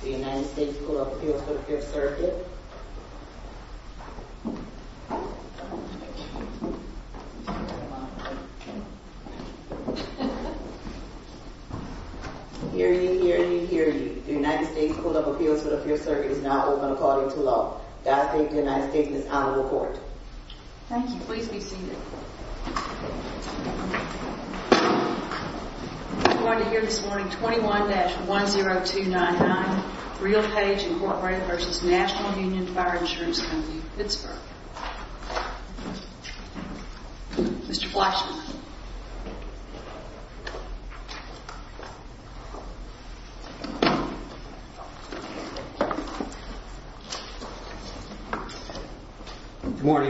The United States Court of Appeals for the Fifth Circuit is now open according to law. The United States Court of Appeals for the Fifth Circuit is now open according to law. Good morning,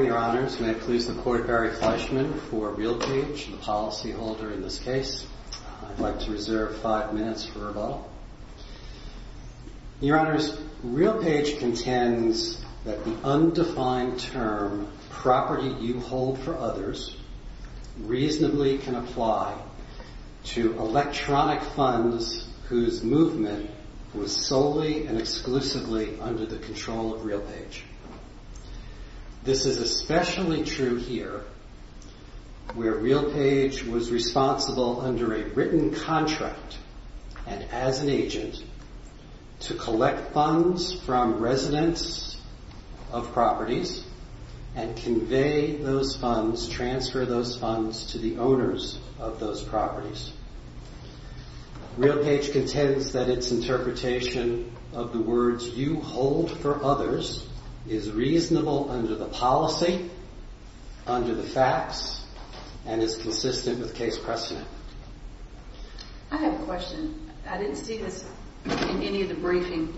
Your Honors. May I please support Barry Fleischman for Realpage, the policyholder in this case. I'd like to reserve five minutes for rebuttal. Your Honors, Realpage contends that the undefined term, property you hold for others, reasonably can apply to electronic funds whose movement was solely and exclusively under the control of Realpage. This is especially true here, where Realpage was responsible under a written contract and as an agent to collect funds from residents of properties and convey those funds, transfer those funds to the owners of those properties. Realpage contends that its interpretation of the words you hold for others is reasonable under the policy, under the facts, and is consistent with case precedent. I have a question. I didn't see this in any of the briefing.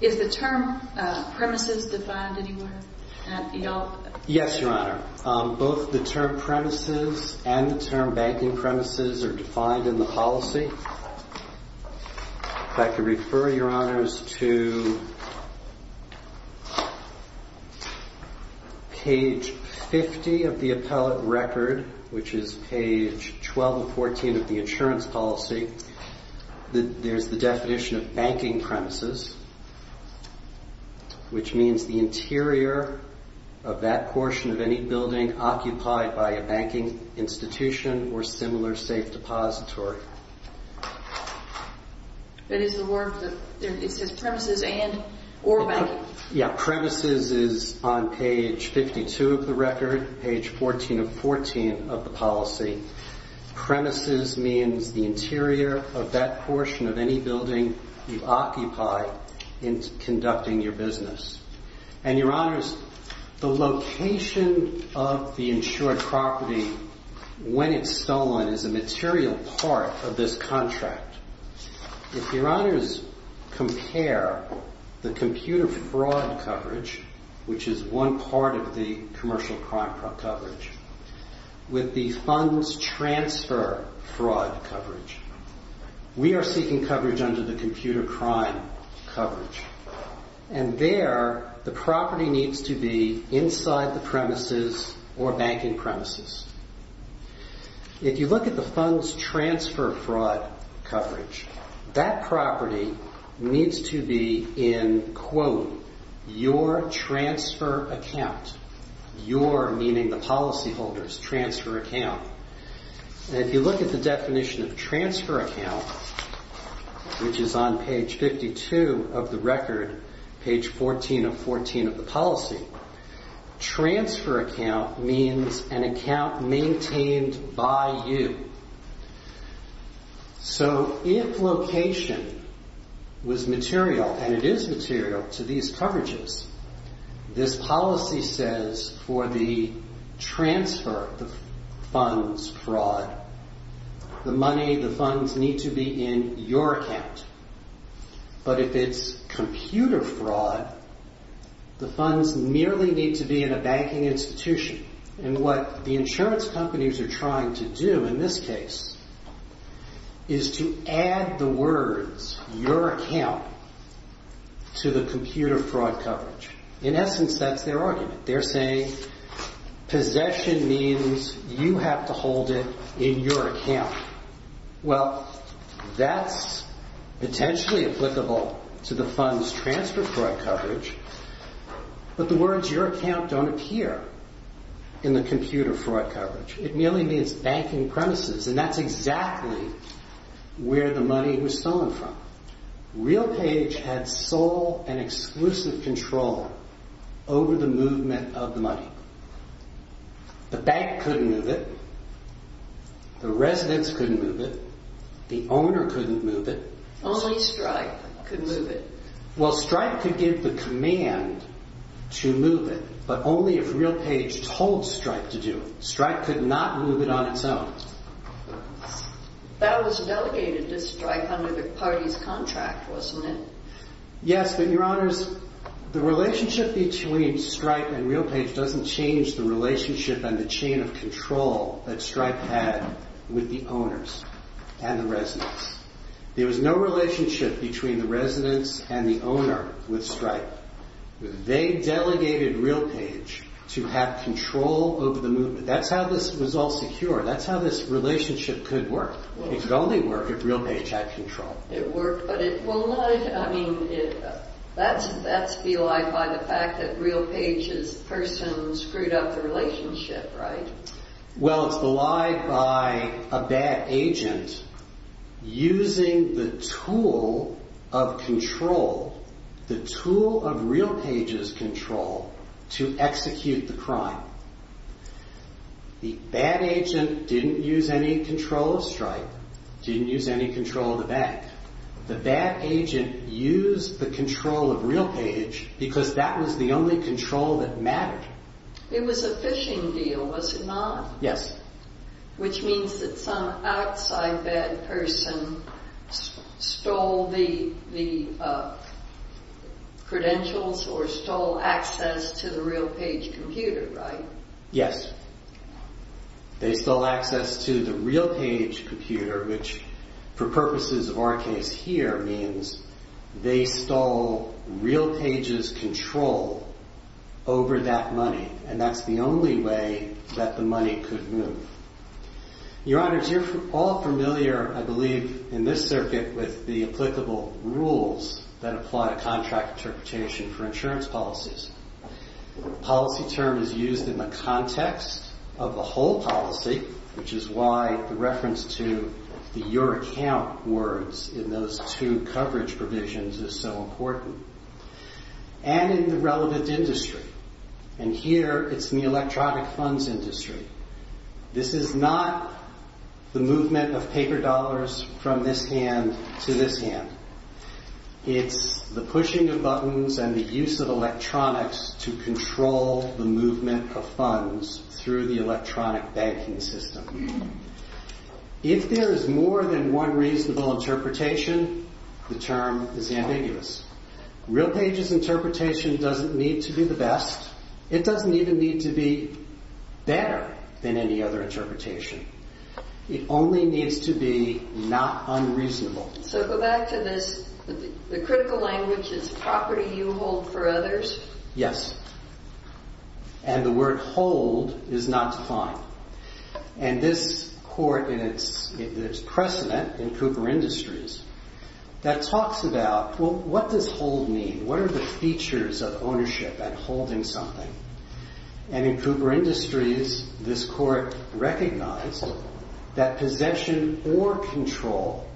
Is the term premises defined anywhere? Yes, Your Honor. Both the term premises and the term banking premises are defined in the policy. If I could refer, Your Honors, to page 50 of the appellate record, which is page 12 and 14 of the insurance policy. There's the definition of banking premises, which means the interior of that portion of any building occupied by a banking institution or similar safe depository. But is the word, it says premises and or banking? Yeah, premises is on page 52 of the record, page 14 and 14 of the policy. Premises means the interior of that portion of any building you occupy in conducting your business. And Your Honors, the location of the insured property when it's stolen is a material part of this contract. If Your Honors compare the computer fraud coverage, which is one part of the commercial crime coverage, with the funds transfer fraud coverage, we are seeking coverage under the computer crime coverage. And there, the property needs to be inside the premises or banking premises. If you look at the funds transfer fraud coverage, that property needs to be in, quote, your transfer account. Your, meaning the policyholders, transfer account. And if you look at the definition of transfer account, which is on page 52 of the record, page 14 and 14 of the policy, transfer account means an account maintained by you. So if location was material and it is material to these coverages, this policy says for the transfer, the funds fraud, the money, the funds need to be in your account. But if it's computer fraud, the funds merely need to be in a banking institution. And what the insurance companies are trying to do in this case is to add the words your account to the computer fraud coverage. In essence, that's their argument. They're saying possession means you have to hold it in your account. Well, that's potentially applicable to the funds transfer fraud coverage, but the words your account don't appear in the computer fraud coverage. It merely means banking premises, and that's exactly where the money was stolen from. RealPage had sole and exclusive control over the movement of the money. The bank couldn't move it. The residents couldn't move it. The owner couldn't move it. Only Stripe could move it. Well, Stripe could give the command to move it, but only if RealPage told Stripe to do it. Stripe could not move it on its own. That was delegated to Stripe under the party's contract, wasn't it? Yes, but Your Honors, the relationship between Stripe and RealPage doesn't change the relationship and the chain of control that Stripe had with the owners and the residents. There was no relationship between the residents and the owner with Stripe. They delegated RealPage to have control over the movement. That's how this was all secure. That's how this relationship could work. It could only work if RealPage had control. That's belied by the fact that RealPage's person screwed up the relationship, right? The bad agent used the control of RealPage because that was the only control that mattered. It was a phishing deal, was it not? Yes. Which means that some outside bad person stole the credentials or stole access to the RealPage computer, right? Yes. They stole access to the RealPage computer, which, for purposes of our case here, means they stole RealPage's control over that money, and that's the only way that the money could move. Your Honors, you're all familiar, I believe, in this circuit with the applicable rules that apply to contract interpretation for insurance policies. The policy term is used in the context of the whole policy, which is why the reference to the your account words in those two coverage provisions is so important, and in the relevant industry. Here, it's in the electronic funds industry. This is not the movement of paper dollars from this hand to this hand. It's the pushing of buttons and the use of electronics to control the movement of funds through the electronic banking system. If there is more than one reasonable interpretation, the term is ambiguous. RealPage's interpretation doesn't need to be the best. It doesn't even need to be better than any other interpretation. It only needs to be not unreasonable. So, go back to this. The critical language is property you hold for others. Yes. And the word hold is not defined. And this court, in its precedent in Cooper Industries, that talks about, well, what does hold mean? What are the features of ownership and holding something? And in Cooper Industries, this court recognized that possession or control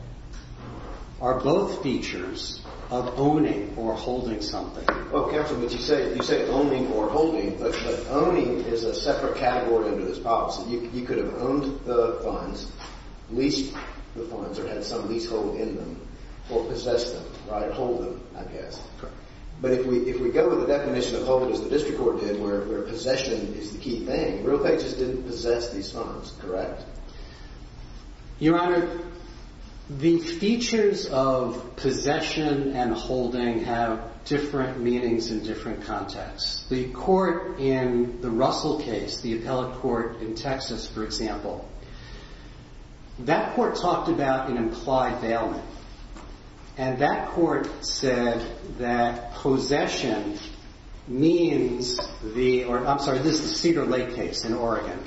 are both features of owning or holding something. Well, counsel, what you say, you say owning or holding, but owning is a separate category under this policy. You could have owned the funds, leased the funds, or had some leasehold in them or possessed them, right? Hold them, I guess. Correct. But if we go with the definition of hold, as the district court did, where possession is the key thing, RealPage's didn't possess these funds, correct? Your Honor, the features of possession and holding have different meanings in different contexts. The court in the Russell case, the appellate court in Texas, for example, that court talked about an implied bailment. And that court said that possession means the, I'm sorry, this is the Cedar Lake case in Oregon,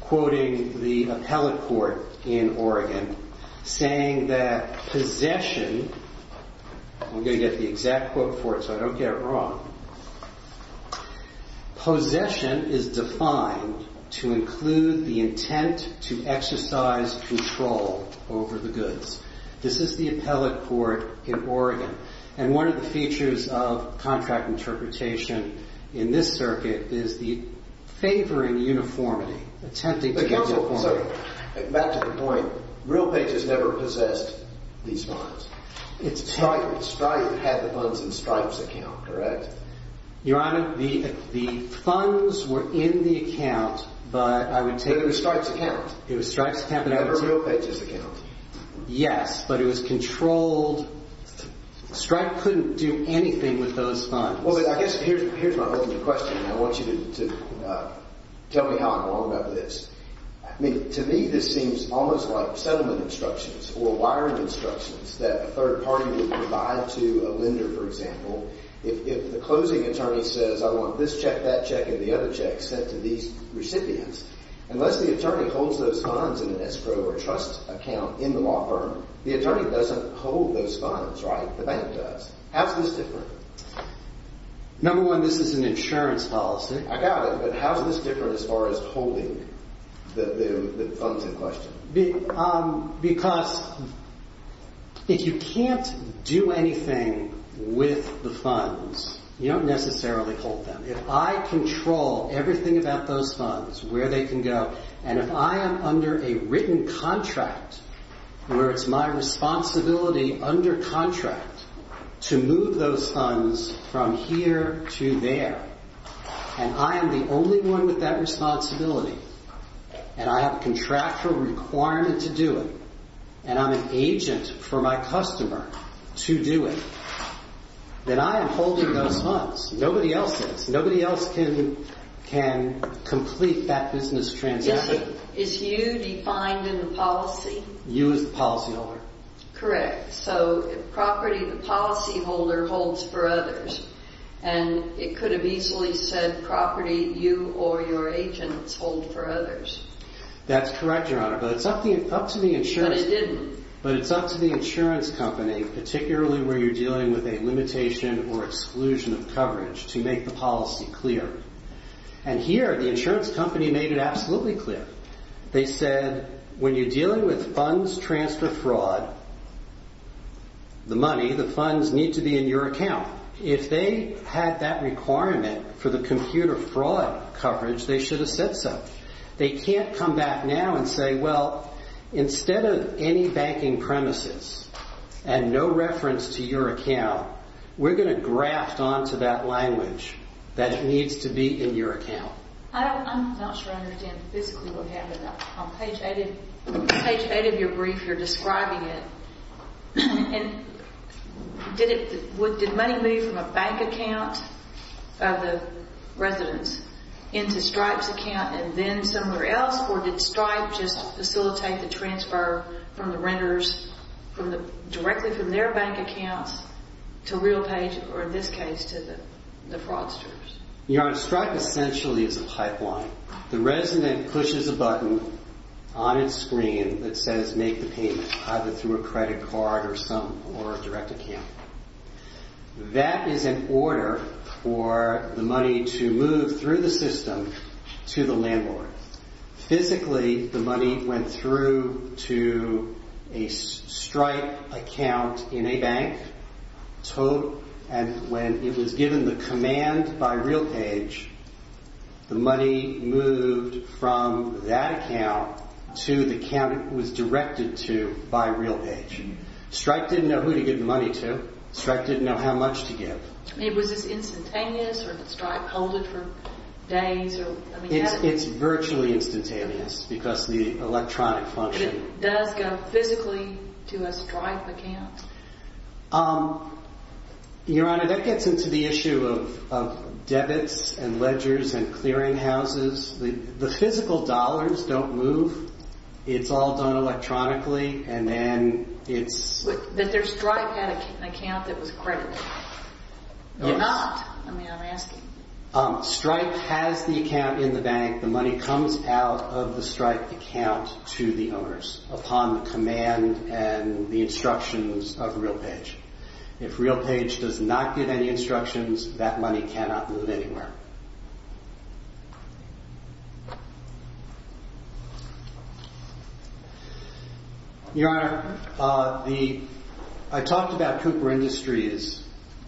quoting the appellate court in Oregon, saying that possession, I'm going to get the exact quote for it so I don't get it wrong, possession is defined to include the intent to exercise control over the goods. This is the appellate court in Oregon. And one of the features of contract interpretation in this circuit is the favoring uniformity, attempting to get uniformity. But counsel, back to the point, RealPage has never possessed these funds. It's Stripe. Stripe had the funds in Stripe's account, correct? Your Honor, the funds were in the account, but I would take it. But it was Stripe's account. It was Stripe's account. It was RealPage's account. Yes, but it was controlled. Stripe couldn't do anything with those funds. Well, I guess here's my opening question, and I want you to tell me how I'm wrong about this. I mean, to me this seems almost like settlement instructions or wiring instructions that a third party would provide to a lender, for example. If the closing attorney says, I want this check, that check, and the other check sent to these recipients, unless the attorney holds those funds in an escrow or trust account in the law firm, the attorney doesn't hold those funds, right? The bank does. How's this different? Number one, this is an insurance policy. I got it. But how's this different as far as holding the funds in question? Because if you can't do anything with the funds, you don't necessarily hold them. If I control everything about those funds, where they can go, and if I am under a written contract where it's my responsibility under contract to move those funds from here to there, and I am the only one with that responsibility, and I have a contractual requirement to do it, and I'm an agent for my customer to do it, then I am holding those funds. Nobody else does. Nobody else can complete that business transaction. Is you defined in the policy? You as the policyholder. Correct. So property, the policyholder holds for others. And it could have easily said property, you or your agents hold for others. That's correct, Your Honor. But it's up to the insurance. But it didn't. But it's up to the insurance company, particularly where you're dealing with a limitation or exclusion of coverage, to make the policy clear. And here, the insurance company made it absolutely clear. They said, when you're dealing with funds transfer fraud, the money, the funds need to be in your account. If they had that requirement for the computer fraud coverage, they should have said so. They can't come back now and say, well, instead of any banking premises and no reference to your account, we're going to graft onto that language that it needs to be in your account. I'm not sure I understand physically what happened. On page 8 of your brief, you're describing it. And did money move from a bank account of the residence into Stripe's account and then somewhere else? Or did Stripe just facilitate the transfer from the renters directly from their bank accounts to RealPay, or in this case, to the fraudsters? Your Honor, Stripe essentially is a pipeline. The resident pushes a button on its screen that says, make the payment, either through a credit card or a direct account. That is an order for the money to move through the system to the landlord. Physically, the money went through to a Stripe account in a bank. And when it was given the command by RealPay, the money moved from that account to the account it was directed to by RealPay. Stripe didn't know who to give the money to. Stripe didn't know how much to give. Was this instantaneous, or did Stripe hold it for days? It's virtually instantaneous because of the electronic function. But it does go physically to a Stripe account? Your Honor, that gets into the issue of debits and ledgers and clearinghouses. The physical dollars don't move. It's all done electronically, and then it's... But Stripe had an account that was credited. You're not. I mean, I'm asking. Stripe has the account in the bank. The money comes out of the Stripe account to the owners upon the command and the instructions of RealPay. If RealPay does not give any instructions, that money cannot move anywhere. Your Honor, I talked about Cooper Industries,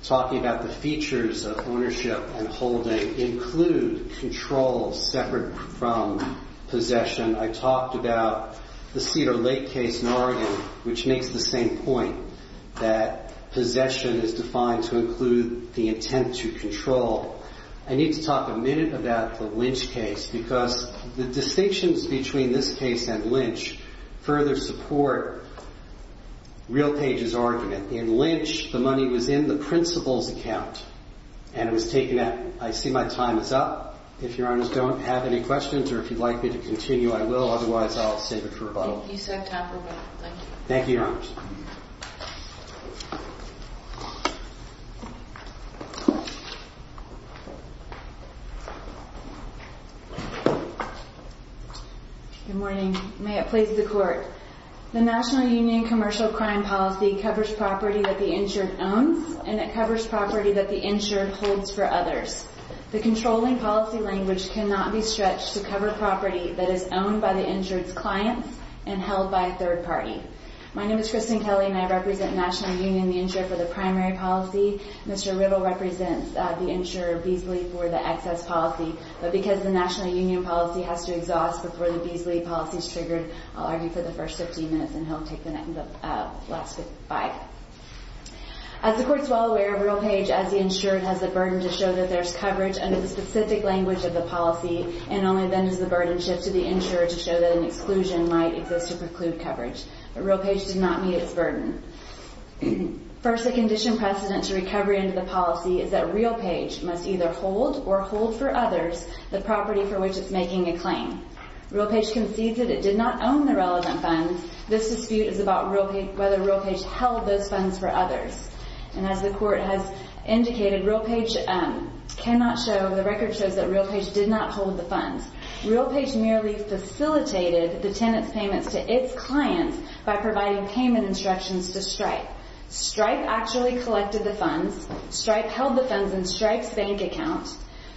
talking about the features of ownership and holding include control separate from possession. I talked about the Cedar Lake case in Oregon, which makes the same point, that possession is defined to include the intent to control. I need to talk a minute about the Lynch case because the distinctions between this case and Lynch further support RealPay's argument. In Lynch, the money was in the principal's account, and it was taken out. I see my time is up. If Your Honors don't have any questions or if you'd like me to continue, I will. Otherwise, I'll save it for rebuttal. You said time for rebuttal. Thank you. Thank you, Your Honors. Good morning. May it please the Court. The National Union Commercial Crime Policy covers property that the insured owns, and it covers property that the insured holds for others. The controlling policy language cannot be stretched to cover property that is owned by the insured's clients and held by a third party. My name is Kristen Kelly, and I represent National Union, the insurer for the primary policy. Mr. Riddle represents the insurer, Beasley, for the excess policy. But because the National Union policy has to exhaust before the Beasley policy is triggered, I'll argue for the first 15 minutes, and he'll take the last five. As the Court's well aware, RealPage, as the insured, has the burden to show that there's coverage under the specific language of the policy, and only then does the burden shift to the insurer to show that an exclusion might exist to preclude coverage. But RealPage did not meet its burden. First, a condition precedent to recovery under the policy is that RealPage must either hold or hold for others the property for which it's making a claim. RealPage concedes that it did not own the relevant funds. This dispute is about whether RealPage held those funds for others. And as the Court has indicated, RealPage cannot show, the record shows that RealPage did not hold the funds. RealPage merely facilitated the tenant's payments to its clients by providing payment instructions to Stripe. Stripe actually collected the funds. Stripe held the funds in Stripe's bank account.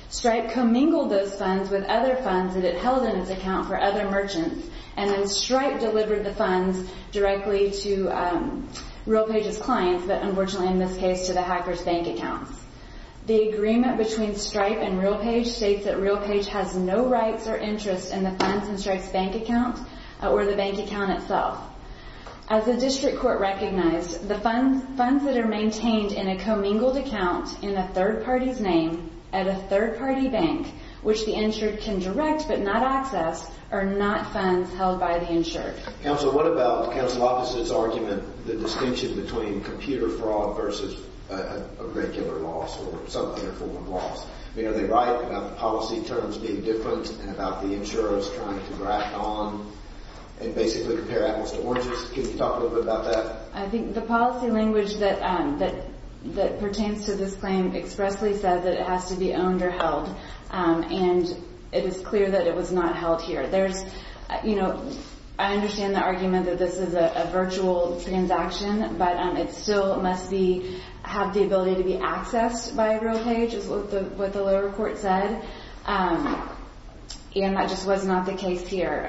Stripe commingled those funds with other funds that it held in its account for other merchants. And then Stripe delivered the funds directly to RealPage's clients, but unfortunately in this case to the hacker's bank accounts. The agreement between Stripe and RealPage states that RealPage has no rights or interest in the funds in Stripe's bank account or the bank account itself. As the District Court recognized, the funds that are maintained in a commingled account in a third party's name at a third party bank, which the insured can direct but not access, are not funds held by the insured. Counsel, what about Counsel Lopez's argument, the distinction between computer fraud versus a regular loss or some other form of loss? I mean, are they right about the policy terms being different and about the insurers trying to graft on and basically compare apples to oranges? Can you talk a little bit about that? I think the policy language that pertains to this claim expressly says that it has to be owned or held. And it is clear that it was not held here. I understand the argument that this is a virtual transaction, but it still must have the ability to be accessed by RealPage, is what the lower court said. And that just was not the case here.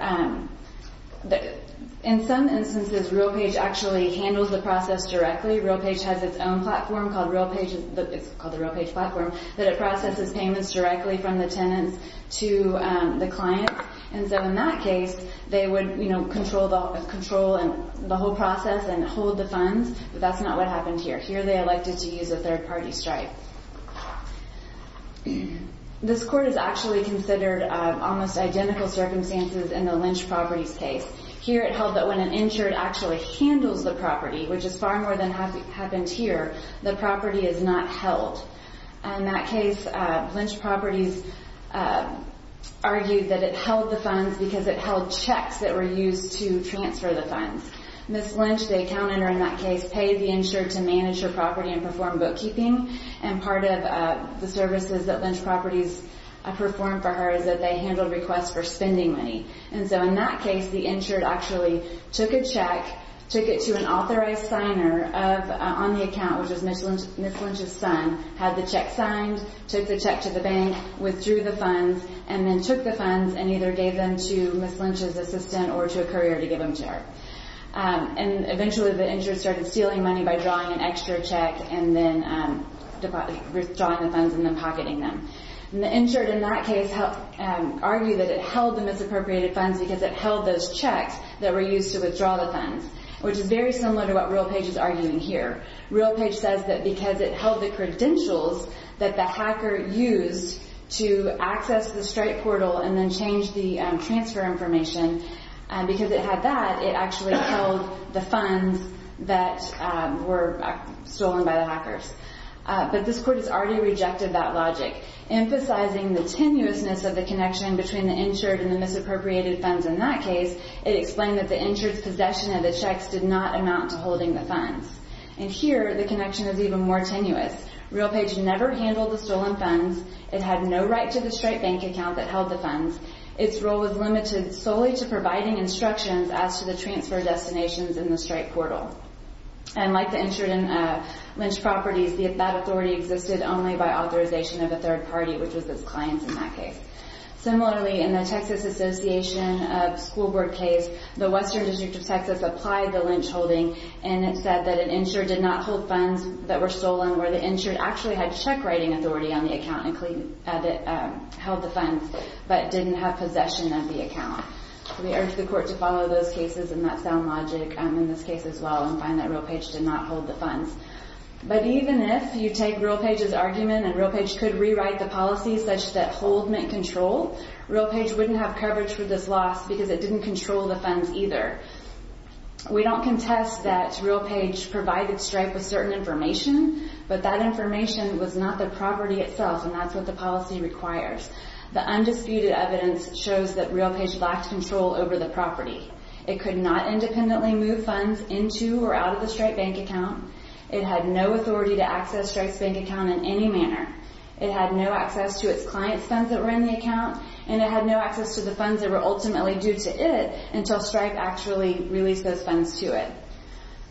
In some instances, RealPage actually handles the process directly. RealPage has its own platform called RealPage. It's called the RealPage platform. It processes payments directly from the tenants to the client. And so in that case, they would control the whole process and hold the funds. But that's not what happened here. Here they elected to use a third-party stripe. This court has actually considered almost identical circumstances in the Lynch Properties case. Here it held that when an insured actually handles the property, which has far more than happened here, the property is not held. In that case, Lynch Properties argued that it held the funds because it held checks that were used to transfer the funds. Ms. Lynch, the accountant in that case, paid the insured to manage her property and perform bookkeeping. And part of the services that Lynch Properties performed for her is that they handled requests for spending money. And so in that case, the insured actually took a check, took it to an authorized signer on the account, which is Ms. Lynch's son, had the check signed, took the check to the bank, withdrew the funds, and then took the funds and either gave them to Ms. Lynch's assistant or to a courier to give them to her. And eventually, the insured started stealing money by drawing an extra check and then withdrawing the funds and then pocketing them. And the insured in that case argued that it held the misappropriated funds because it held those checks that were used to withdraw the funds, which is very similar to what RealPage is arguing here. RealPage says that because it held the credentials that the hacker used to access the strike portal and then change the transfer information, because it had that, it actually held the funds that were stolen by the hackers. But this court has already rejected that logic. Emphasizing the tenuousness of the connection between the insured and the misappropriated funds in that case, it explained that the insured's possession of the checks did not amount to holding the funds. And here, the connection is even more tenuous. RealPage never handled the stolen funds. It had no right to the strike bank account that held the funds. Its role was limited solely to providing instructions as to the transfer destinations in the strike portal. And like the insured in Lynch Properties, that authority existed only by authorization of a third party, which was its clients in that case. Similarly, in the Texas Association of School Board case, the Western District of Texas applied the Lynch holding, and it said that an insured did not hold funds that were stolen, where the insured actually had check-writing authority on the account that held the funds, but didn't have possession of the account. We urge the court to follow those cases and that sound logic in this case as well and find that RealPage did not hold the funds. But even if you take RealPage's argument and RealPage could rewrite the policy such that hold meant control, RealPage wouldn't have coverage for this loss because it didn't control the funds either. We don't contest that RealPage provided Stripe with certain information, but that information was not the property itself, and that's what the policy requires. The undisputed evidence shows that RealPage lacked control over the property. It could not independently move funds into or out of the Stripe bank account. It had no authority to access Stripe's bank account in any manner. It had no access to its clients' funds that were in the account, and it had no access to the funds that were ultimately due to it until Stripe actually released those funds to it.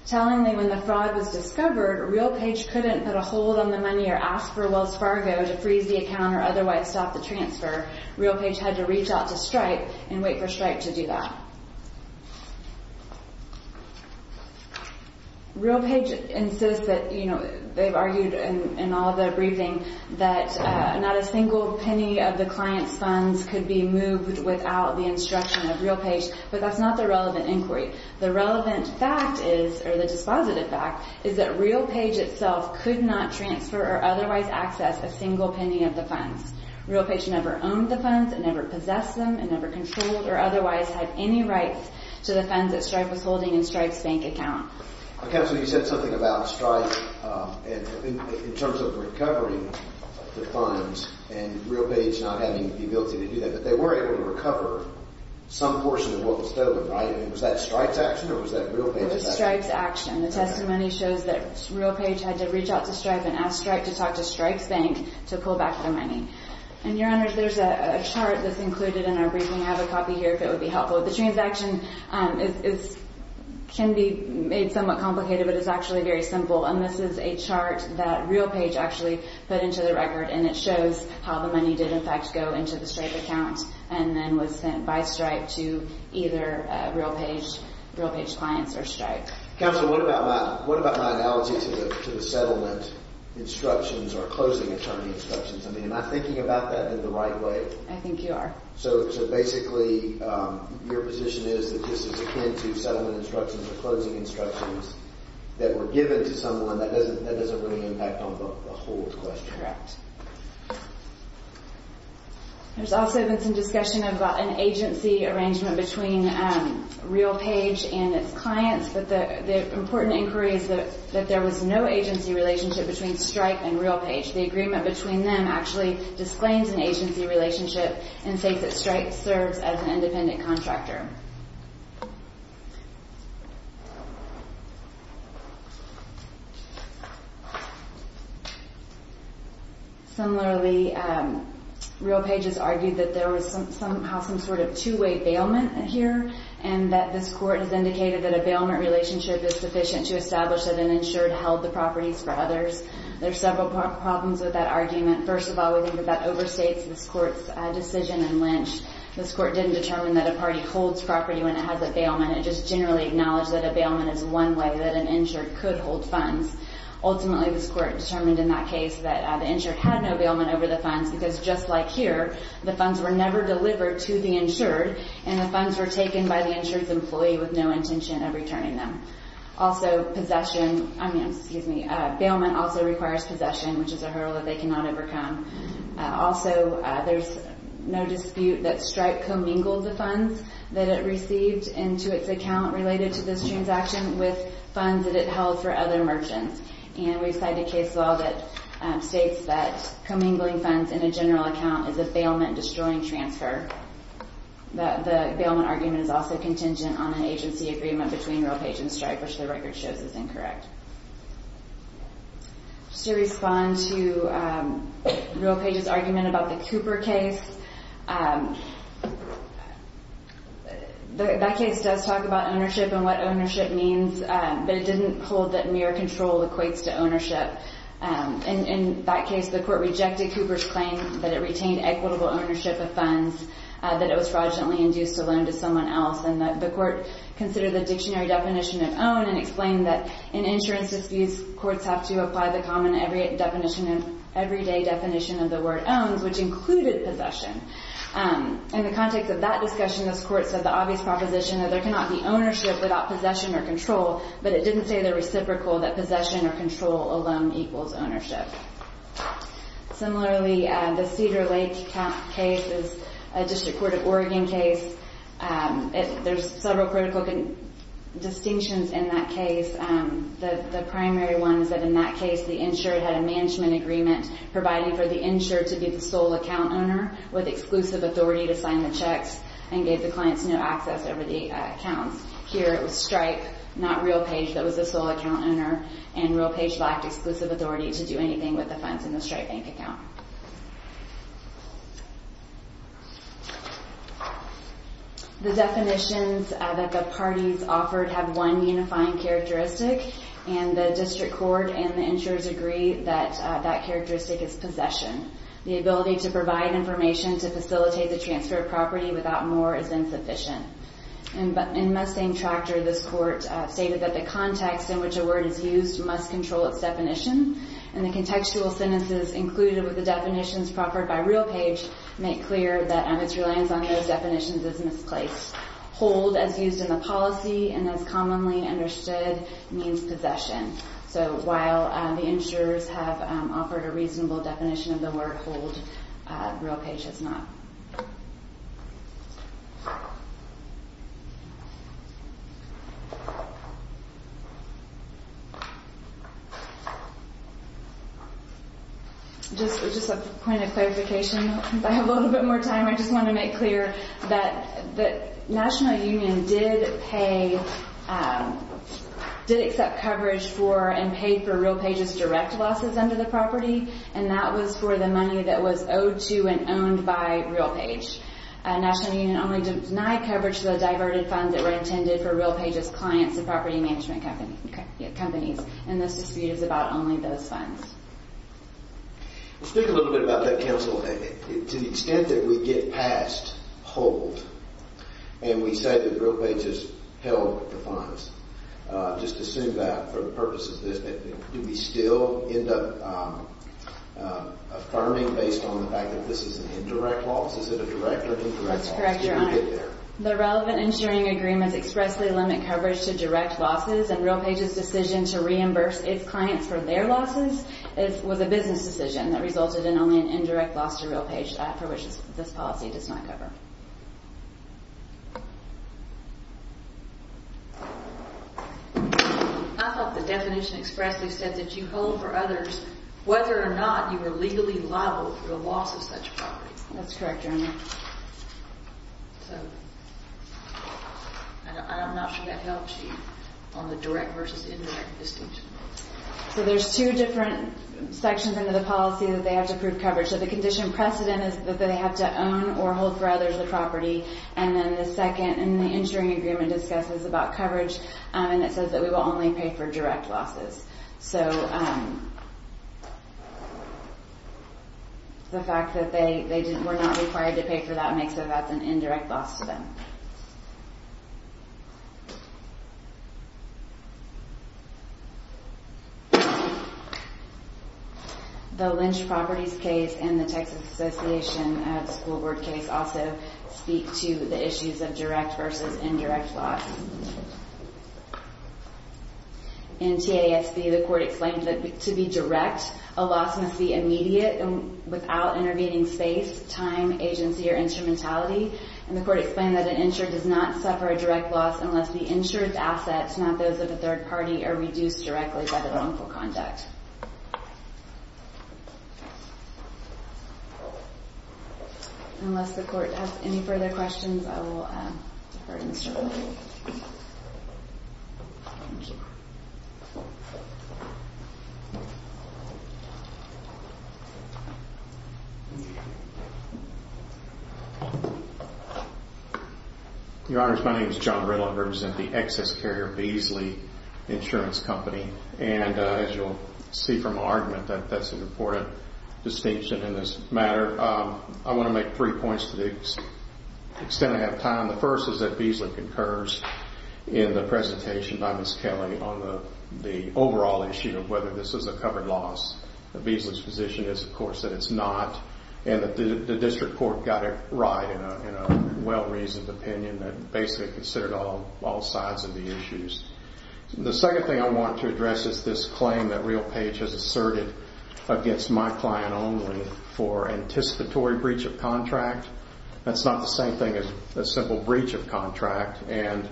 Tellingly, when the fraud was discovered, RealPage couldn't put a hold on the money or ask for Wells Fargo to freeze the account or otherwise stop the transfer. RealPage had to reach out to Stripe and wait for Stripe to do that. RealPage insists that, you know, they've argued in all the briefing that not a single penny of the client's funds could be moved without the instruction of RealPage, but that's not the relevant inquiry. The relevant fact is, or the dispositive fact, is that RealPage itself could not transfer or otherwise access a single penny of the funds. RealPage never owned the funds, it never possessed them, it never controlled or otherwise had any rights to the funds that Stripe was holding in Stripe's bank account. Counsel, you said something about Stripe in terms of recovering the funds and RealPage not having the ability to do that, but they were able to recover some portion of what was stolen, right? I mean, was that Stripe's action or was that RealPage's action? It was Stripe's action. The testimony shows that RealPage had to reach out to Stripe and ask Stripe to talk to Stripe's bank to pull back their money. And, Your Honor, there's a chart that's included in our briefing. I have a copy here if it would be helpful. The transaction can be made somewhat complicated, but it's actually very simple. And this is a chart that RealPage actually put into the record and it shows how the money did, in fact, go into the Stripe account and then was sent by Stripe to either RealPage clients or Stripe. Counsel, what about my analogy to the settlement instructions or closing attorney instructions? I mean, am I thinking about that in the right way? I think you are. So, basically, your position is that this is akin to settlement instructions or closing instructions that were given to someone that doesn't really impact on the whole question. Correct. There's also been some discussion about an agency arrangement between RealPage and its clients, but the important inquiry is that there was no agency relationship between Stripe and RealPage. The agreement between them actually disclaims an agency relationship and states that Stripe serves as an independent contractor. Similarly, RealPage has argued that there was somehow some sort of two-way bailment here and that this court has indicated that a bailment relationship is sufficient to establish that an insured held the properties for others. There are several problems with that argument. First of all, we think that that overstates this court's decision in Lynch. This court didn't determine that a party holds property when it has a bailment. It just generally acknowledged that a bailment is one way that an insured could hold funds. Ultimately, this court determined in that case that the insured had no bailment over the funds because just like here, the funds were never delivered to the insured and the funds were taken by the insured's employee with no intention of returning them. Also, possession, I mean, excuse me, bailment also requires possession, which is a hurdle that they cannot overcome. Also, there's no dispute that Stripe commingled the funds that it received into its account related to this transaction with funds that it held for other merchants. And we cite a case law that states that commingling funds in a general account is a bailment-destroying transfer. The bailment argument is also contingent on an agency agreement between Realpage and Stripe, which the record shows is incorrect. Just to respond to Realpage's argument about the Cooper case, that case does talk about ownership and what ownership means, but it didn't hold that mere control equates to ownership. In that case, the court rejected Cooper's claim that it retained equitable ownership of funds, that it was fraudulently induced a loan to someone else, and that the court considered the dictionary definition of own and explained that in insurance disputes, courts have to apply the common everyday definition of the word owns, which included possession. In the context of that discussion, this court said the obvious proposition that there cannot be ownership without possession or control, but it didn't say in the reciprocal that possession or control alone equals ownership. Similarly, the Cedar Lake case is a District Court of Oregon case. There's several critical distinctions in that case. The primary one is that in that case, the insured had a management agreement providing for the insured to be the sole account owner with exclusive authority to sign the checks and gave the clients no access over the accounts. Here it was Stripe, not Realpage, that was the sole account owner, and Realpage lacked exclusive authority to do anything with the funds in the Stripe bank account. The definitions that the parties offered have one unifying characteristic, and the District Court and the insurers agree that that characteristic is possession. The ability to provide information to facilitate the transfer of property without more is insufficient. In Mustang Tractor, this court stated that the context in which a word is used must control its definition, and the contextual sentences included with the definitions proffered by Realpage make clear that its reliance on those definitions is misplaced. Hold, as used in the policy and as commonly understood, means possession. So while the insurers have offered a reasonable definition of the word hold, Realpage has not. Just a point of clarification, if I have a little bit more time, I just want to make clear that the National Union did pay, did accept coverage for and paid for Realpage's direct losses under the property, and that was for the money that was owed to and owned by Realpage. National Union only denied coverage for the diverted funds that were intended for Realpage's clients and property management companies, and this dispute is about only those funds. Speak a little bit about that, counsel. To the extent that we get past hold and we say that Realpage has held the funds, just assume that for the purpose of this, do we still end up affirming based on the fact that this is an indirect loss? Is it a direct or indirect loss? Let's correct your honor. The relevant insuring agreements expressly limit coverage to direct losses, and Realpage's decision to reimburse its clients for their losses was a business decision that resulted in only an indirect loss to Realpage for which this policy does not cover. I thought the definition expressly said that you hold for others whether or not you were legally liable for the loss of such property. Let's correct your honor. So I'm not sure that helps you on the direct versus indirect distinction. So there's two different sections under the policy that they have to prove coverage. So the condition precedent is that they have to own or hold for others the property, and then the second in the insuring agreement discusses about coverage, and it says that we will only pay for direct losses. So the fact that they were not required to pay for that makes it an indirect loss to them. The Lynch Properties case and the Texas Association School Board case also speak to the issues of direct versus indirect loss. In TASB, the court explained that to be direct, a loss must be immediate and without intervening space, time, agency, or instrumentality. And the court explained that an insurer does not suffer a direct loss unless the insured assets, not those of a third party, are reduced directly by the wrongful conduct. Unless the court has any further questions, I will defer to Mr. Williams. I'm sorry. Your Honors, my name is John Riddle. I represent the Excess Carrier Beasley Insurance Company. And as you'll see from my argument that that's an important distinction in this matter, I want to make three points to the extent I have time. The first is that Beasley concurs in the presentation by Ms. Kelly on the overall issue of whether this is a covered loss. Beasley's position is, of course, that it's not. And the district court got it right in a well-reasoned opinion that basically considered all sides of the issues. The second thing I want to address is this claim that RealPage has asserted against my client only for anticipatory breach of contract. That's not the same thing as a simple breach of contract. And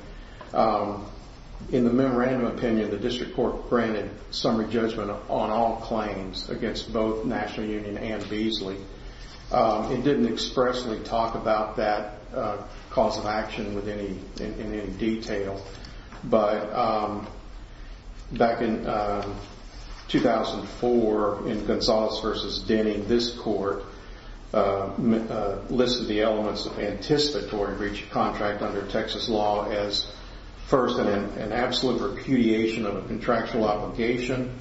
in the memorandum opinion, the district court granted summary judgment on all claims against both National Union and Beasley. It didn't expressly talk about that cause of action in any detail. But back in 2004, in Gonzales v. Denning, this court listed the elements of anticipatory breach of contract under Texas law as, first, an absolute repudiation of a contractual obligation,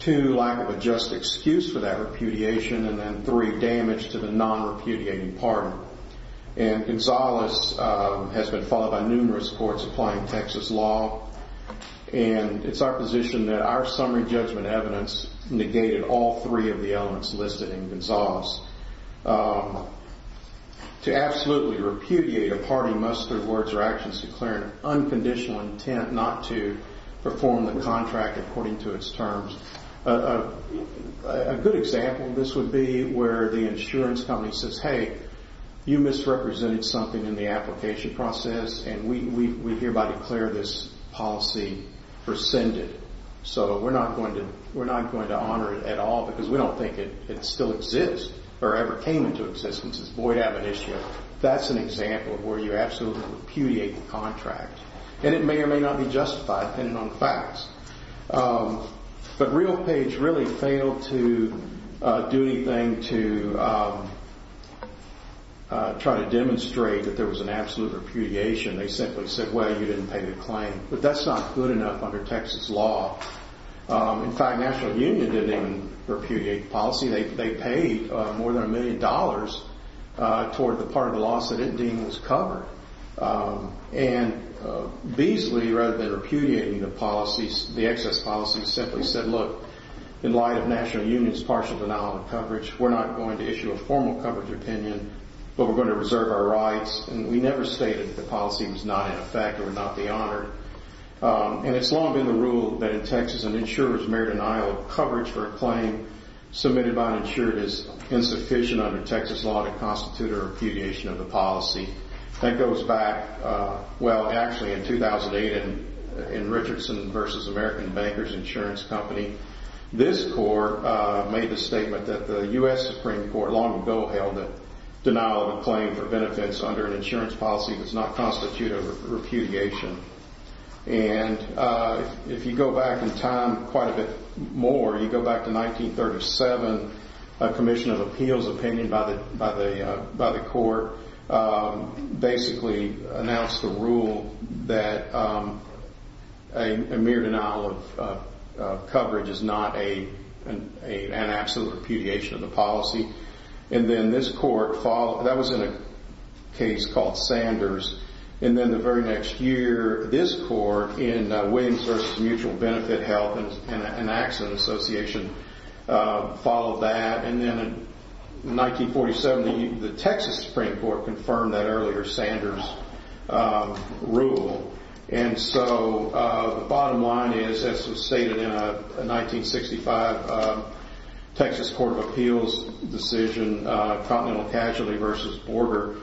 two, lack of a just excuse for that repudiation, and then three, damage to the non-repudiating partner. And Gonzales has been followed by numerous courts applying Texas law. And it's our position that our summary judgment evidence negated all three of the elements listed in Gonzales. To absolutely repudiate a party must, through words or actions, declare an unconditional intent not to perform the contract according to its terms. A good example of this would be where the insurance company says, hey, you misrepresented something in the application process, and we hereby declare this policy rescinded. So we're not going to honor it at all because we don't think it still exists or ever came into existence. It's a void admonition. That's an example of where you absolutely repudiate the contract. And it may or may not be justified, depending on the facts. But RealPage really failed to do anything to try to demonstrate that there was an absolute repudiation. They simply said, well, you didn't pay the claim. But that's not good enough under Texas law. In fact, National Union didn't even repudiate the policy. They paid more than a million dollars toward the part of the lawsuit it deemed was covered. And Beasley, rather than repudiating the excess policy, simply said, look, in light of National Union's partial denial of coverage, we're not going to issue a formal coverage opinion, but we're going to reserve our rights. And we never stated that the policy was not in effect or would not be honored. And it's long been the rule that in Texas, an insurer's mere denial of coverage for a claim submitted by an insurer is insufficient under Texas law to constitute a repudiation of the policy. That goes back, well, actually, in 2008 in Richardson v. American Bankers Insurance Company. This court made the statement that the U.S. Supreme Court long ago held that denial of a claim for benefits under an insurance policy does not constitute a repudiation. And if you go back in time quite a bit more, you go back to 1937, a commission of appeals opinion by the court basically announced a rule that a mere denial of coverage is not an absolute repudiation of the policy. And then this court followed. That was in a case called Sanders. And then the very next year, this court in Williams v. Mutual Benefit Health and Accident Association followed that. And then in 1947, the Texas Supreme Court confirmed that earlier Sanders rule. And so the bottom line is, as was stated in a 1965 Texas Court of Appeals decision, Continental Casualty v. Border,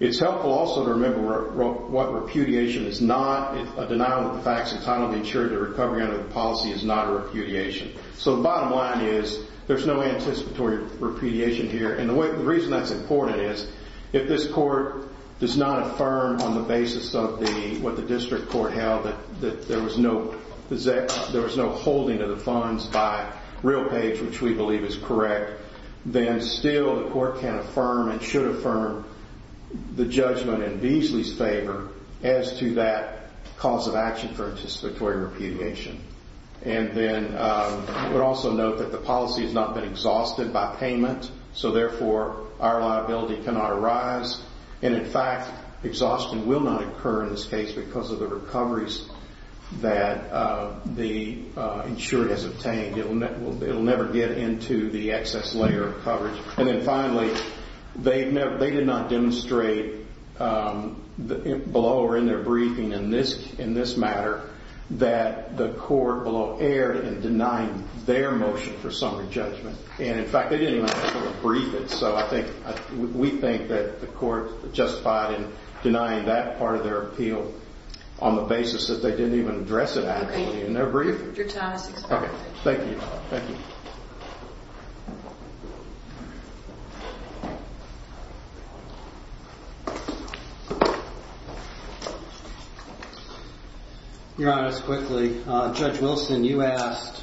it's helpful also to remember what repudiation is not. A denial of the facts and title of the insurer's recovery under the policy is not a repudiation. So the bottom line is, there's no anticipatory repudiation here. And the reason that's important is, if this court does not affirm on the basis of what the district court held, that there was no holding of the funds by real page, which we believe is correct, then still the court can affirm and should affirm the judgment in Beasley's favor as to that cause of action for anticipatory repudiation. And then I would also note that the policy has not been exhausted by payment, so therefore our liability cannot arise. And in fact, exhaustion will not occur in this case because of the recoveries that the insurer has obtained. It will never get into the excess layer of coverage. And then finally, they did not demonstrate below or in their briefing in this matter that the court below erred in denying their motion for summary judgment. And in fact, they didn't even actually brief it. So we think that the court justified in denying that part of their appeal on the basis that they didn't even address it actually in their brief. Thank you. Your Honor, just quickly, Judge Wilson, you asked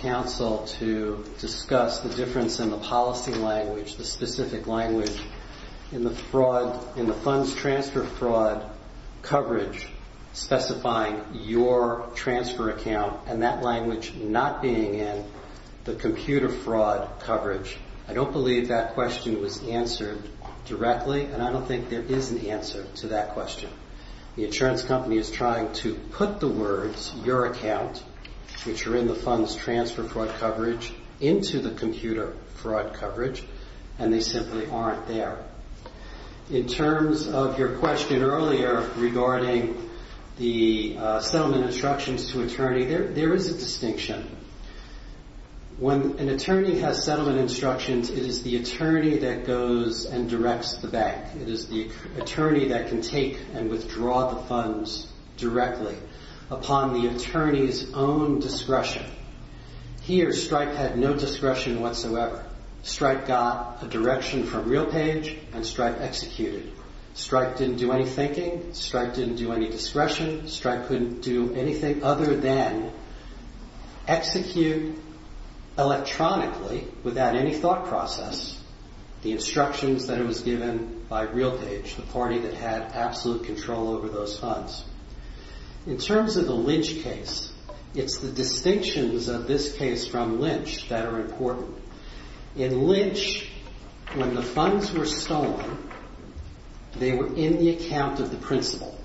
counsel to discuss the difference in the policy language, the specific language in the funds transfer fraud coverage specifying your transfer account and that language not being in the computer fraud coverage. I don't believe that question was answered directly, and I don't think there is an answer to that question. The insurance company is trying to put the words, your account, which are in the funds transfer fraud coverage, into the computer fraud coverage, and they simply aren't there. In terms of your question earlier regarding the settlement instructions to attorney, there is a distinction. When an attorney has settlement instructions, it is the attorney that goes and directs the bank. It is the attorney that can take and withdraw the funds directly upon the attorney's own discretion. Here, Stryke had no discretion whatsoever. Stryke got a direction from RealPage, and Stryke executed. Stryke didn't do any thinking. Stryke didn't do any discretion. Stryke couldn't do anything other than execute electronically without any thought process The instructions that it was given by RealPage, the party that had absolute control over those funds. In terms of the Lynch case, it's the distinctions of this case from Lynch that are important. In Lynch, when the funds were stolen, they were in the account of the principal.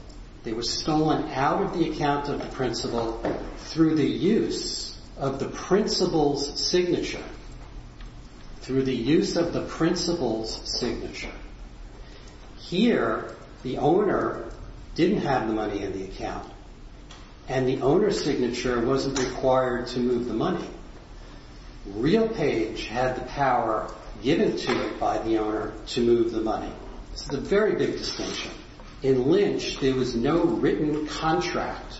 They were stolen out of the account of the principal through the use of the principal's signature. Here, the owner didn't have the money in the account, and the owner's signature wasn't required to move the money. RealPage had the power given to it by the owner to move the money. This is a very big distinction. In Lynch, there was no written contract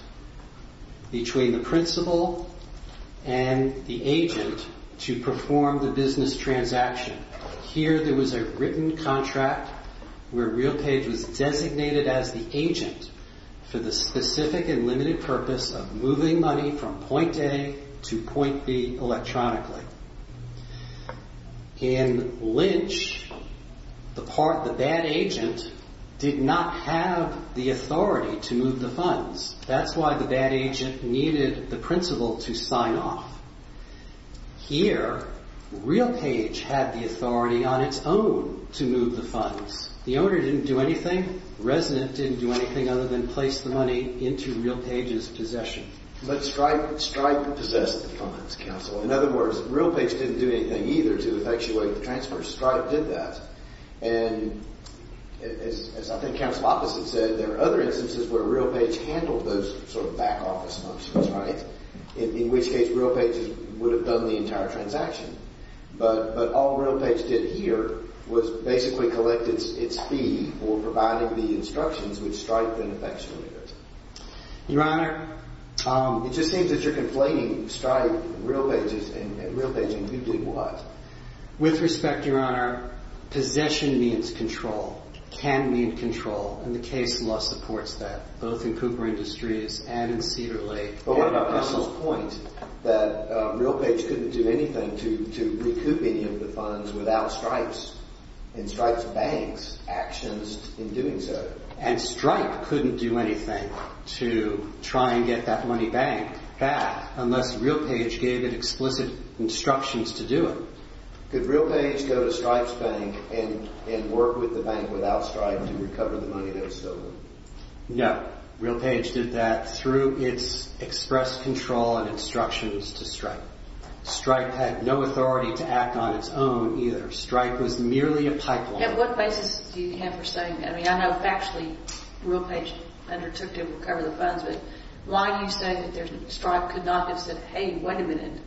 between the principal and the agent to perform the business transaction. Here, there was a written contract where RealPage was designated as the agent for the specific and limited purpose of moving money from point A to point B electronically. In Lynch, the bad agent did not have the authority to move the funds. That's why the bad agent needed the principal to sign off. Here, RealPage had the authority on its own to move the funds. The owner didn't do anything. The resident didn't do anything other than place the money into RealPage's possession. But Stripe possessed the funds, counsel. In other words, RealPage didn't do anything either to effectuate the transfer. Stripe did that. And as I think Counsel Opposite said, there are other instances where RealPage handled those sort of back office functions, right? In which case, RealPage would have done the entire transaction. But all RealPage did here was basically collect its fee for providing the instructions which Stripe then effectuated. Your Honor, it just seems that you're conflating Stripe, RealPage, and you did what? With respect, Your Honor, possession means control. Can means control. And the case law supports that, both in Cooper Industries and in Cedar Lake. But what about Counsel's point that RealPage couldn't do anything to recoup any of the funds without Stripe's and Stripe's bank's actions in doing so? And Stripe couldn't do anything to try and get that money back unless RealPage gave it explicit instructions to do it. No. RealPage did that through its express control and instructions to Stripe. Stripe had no authority to act on its own either. Stripe was merely a pipeline. And what basis do you have for saying that? I mean, I know factually RealPage undertook to recover the funds. But why do you say that Stripe could not have said, hey, wait a minute,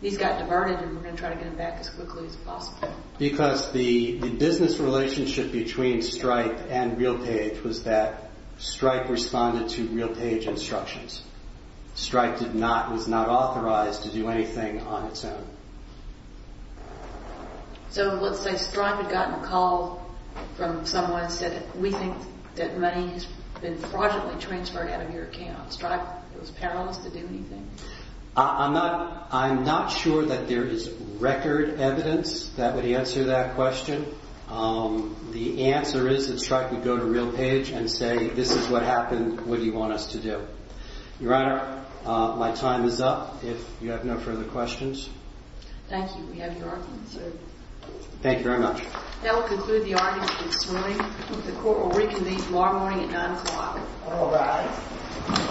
these got diverted and we're going to try to get them back as quickly as possible? Because the business relationship between Stripe and RealPage was that Stripe responded to RealPage instructions. Stripe was not authorized to do anything on its own. So let's say Stripe had gotten a call from someone and said, we think that money has been fraudulently transferred out of your account. Stripe was perilous to do anything? I'm not sure that there is record evidence that would answer that question. The answer is that Stripe would go to RealPage and say, this is what happened, what do you want us to do? Your Honor, my time is up. If you have no further questions. Thank you. We have your argument served. Thank you very much. That will conclude the argument this morning. The court will reconvene tomorrow morning at 9 o'clock. All rise.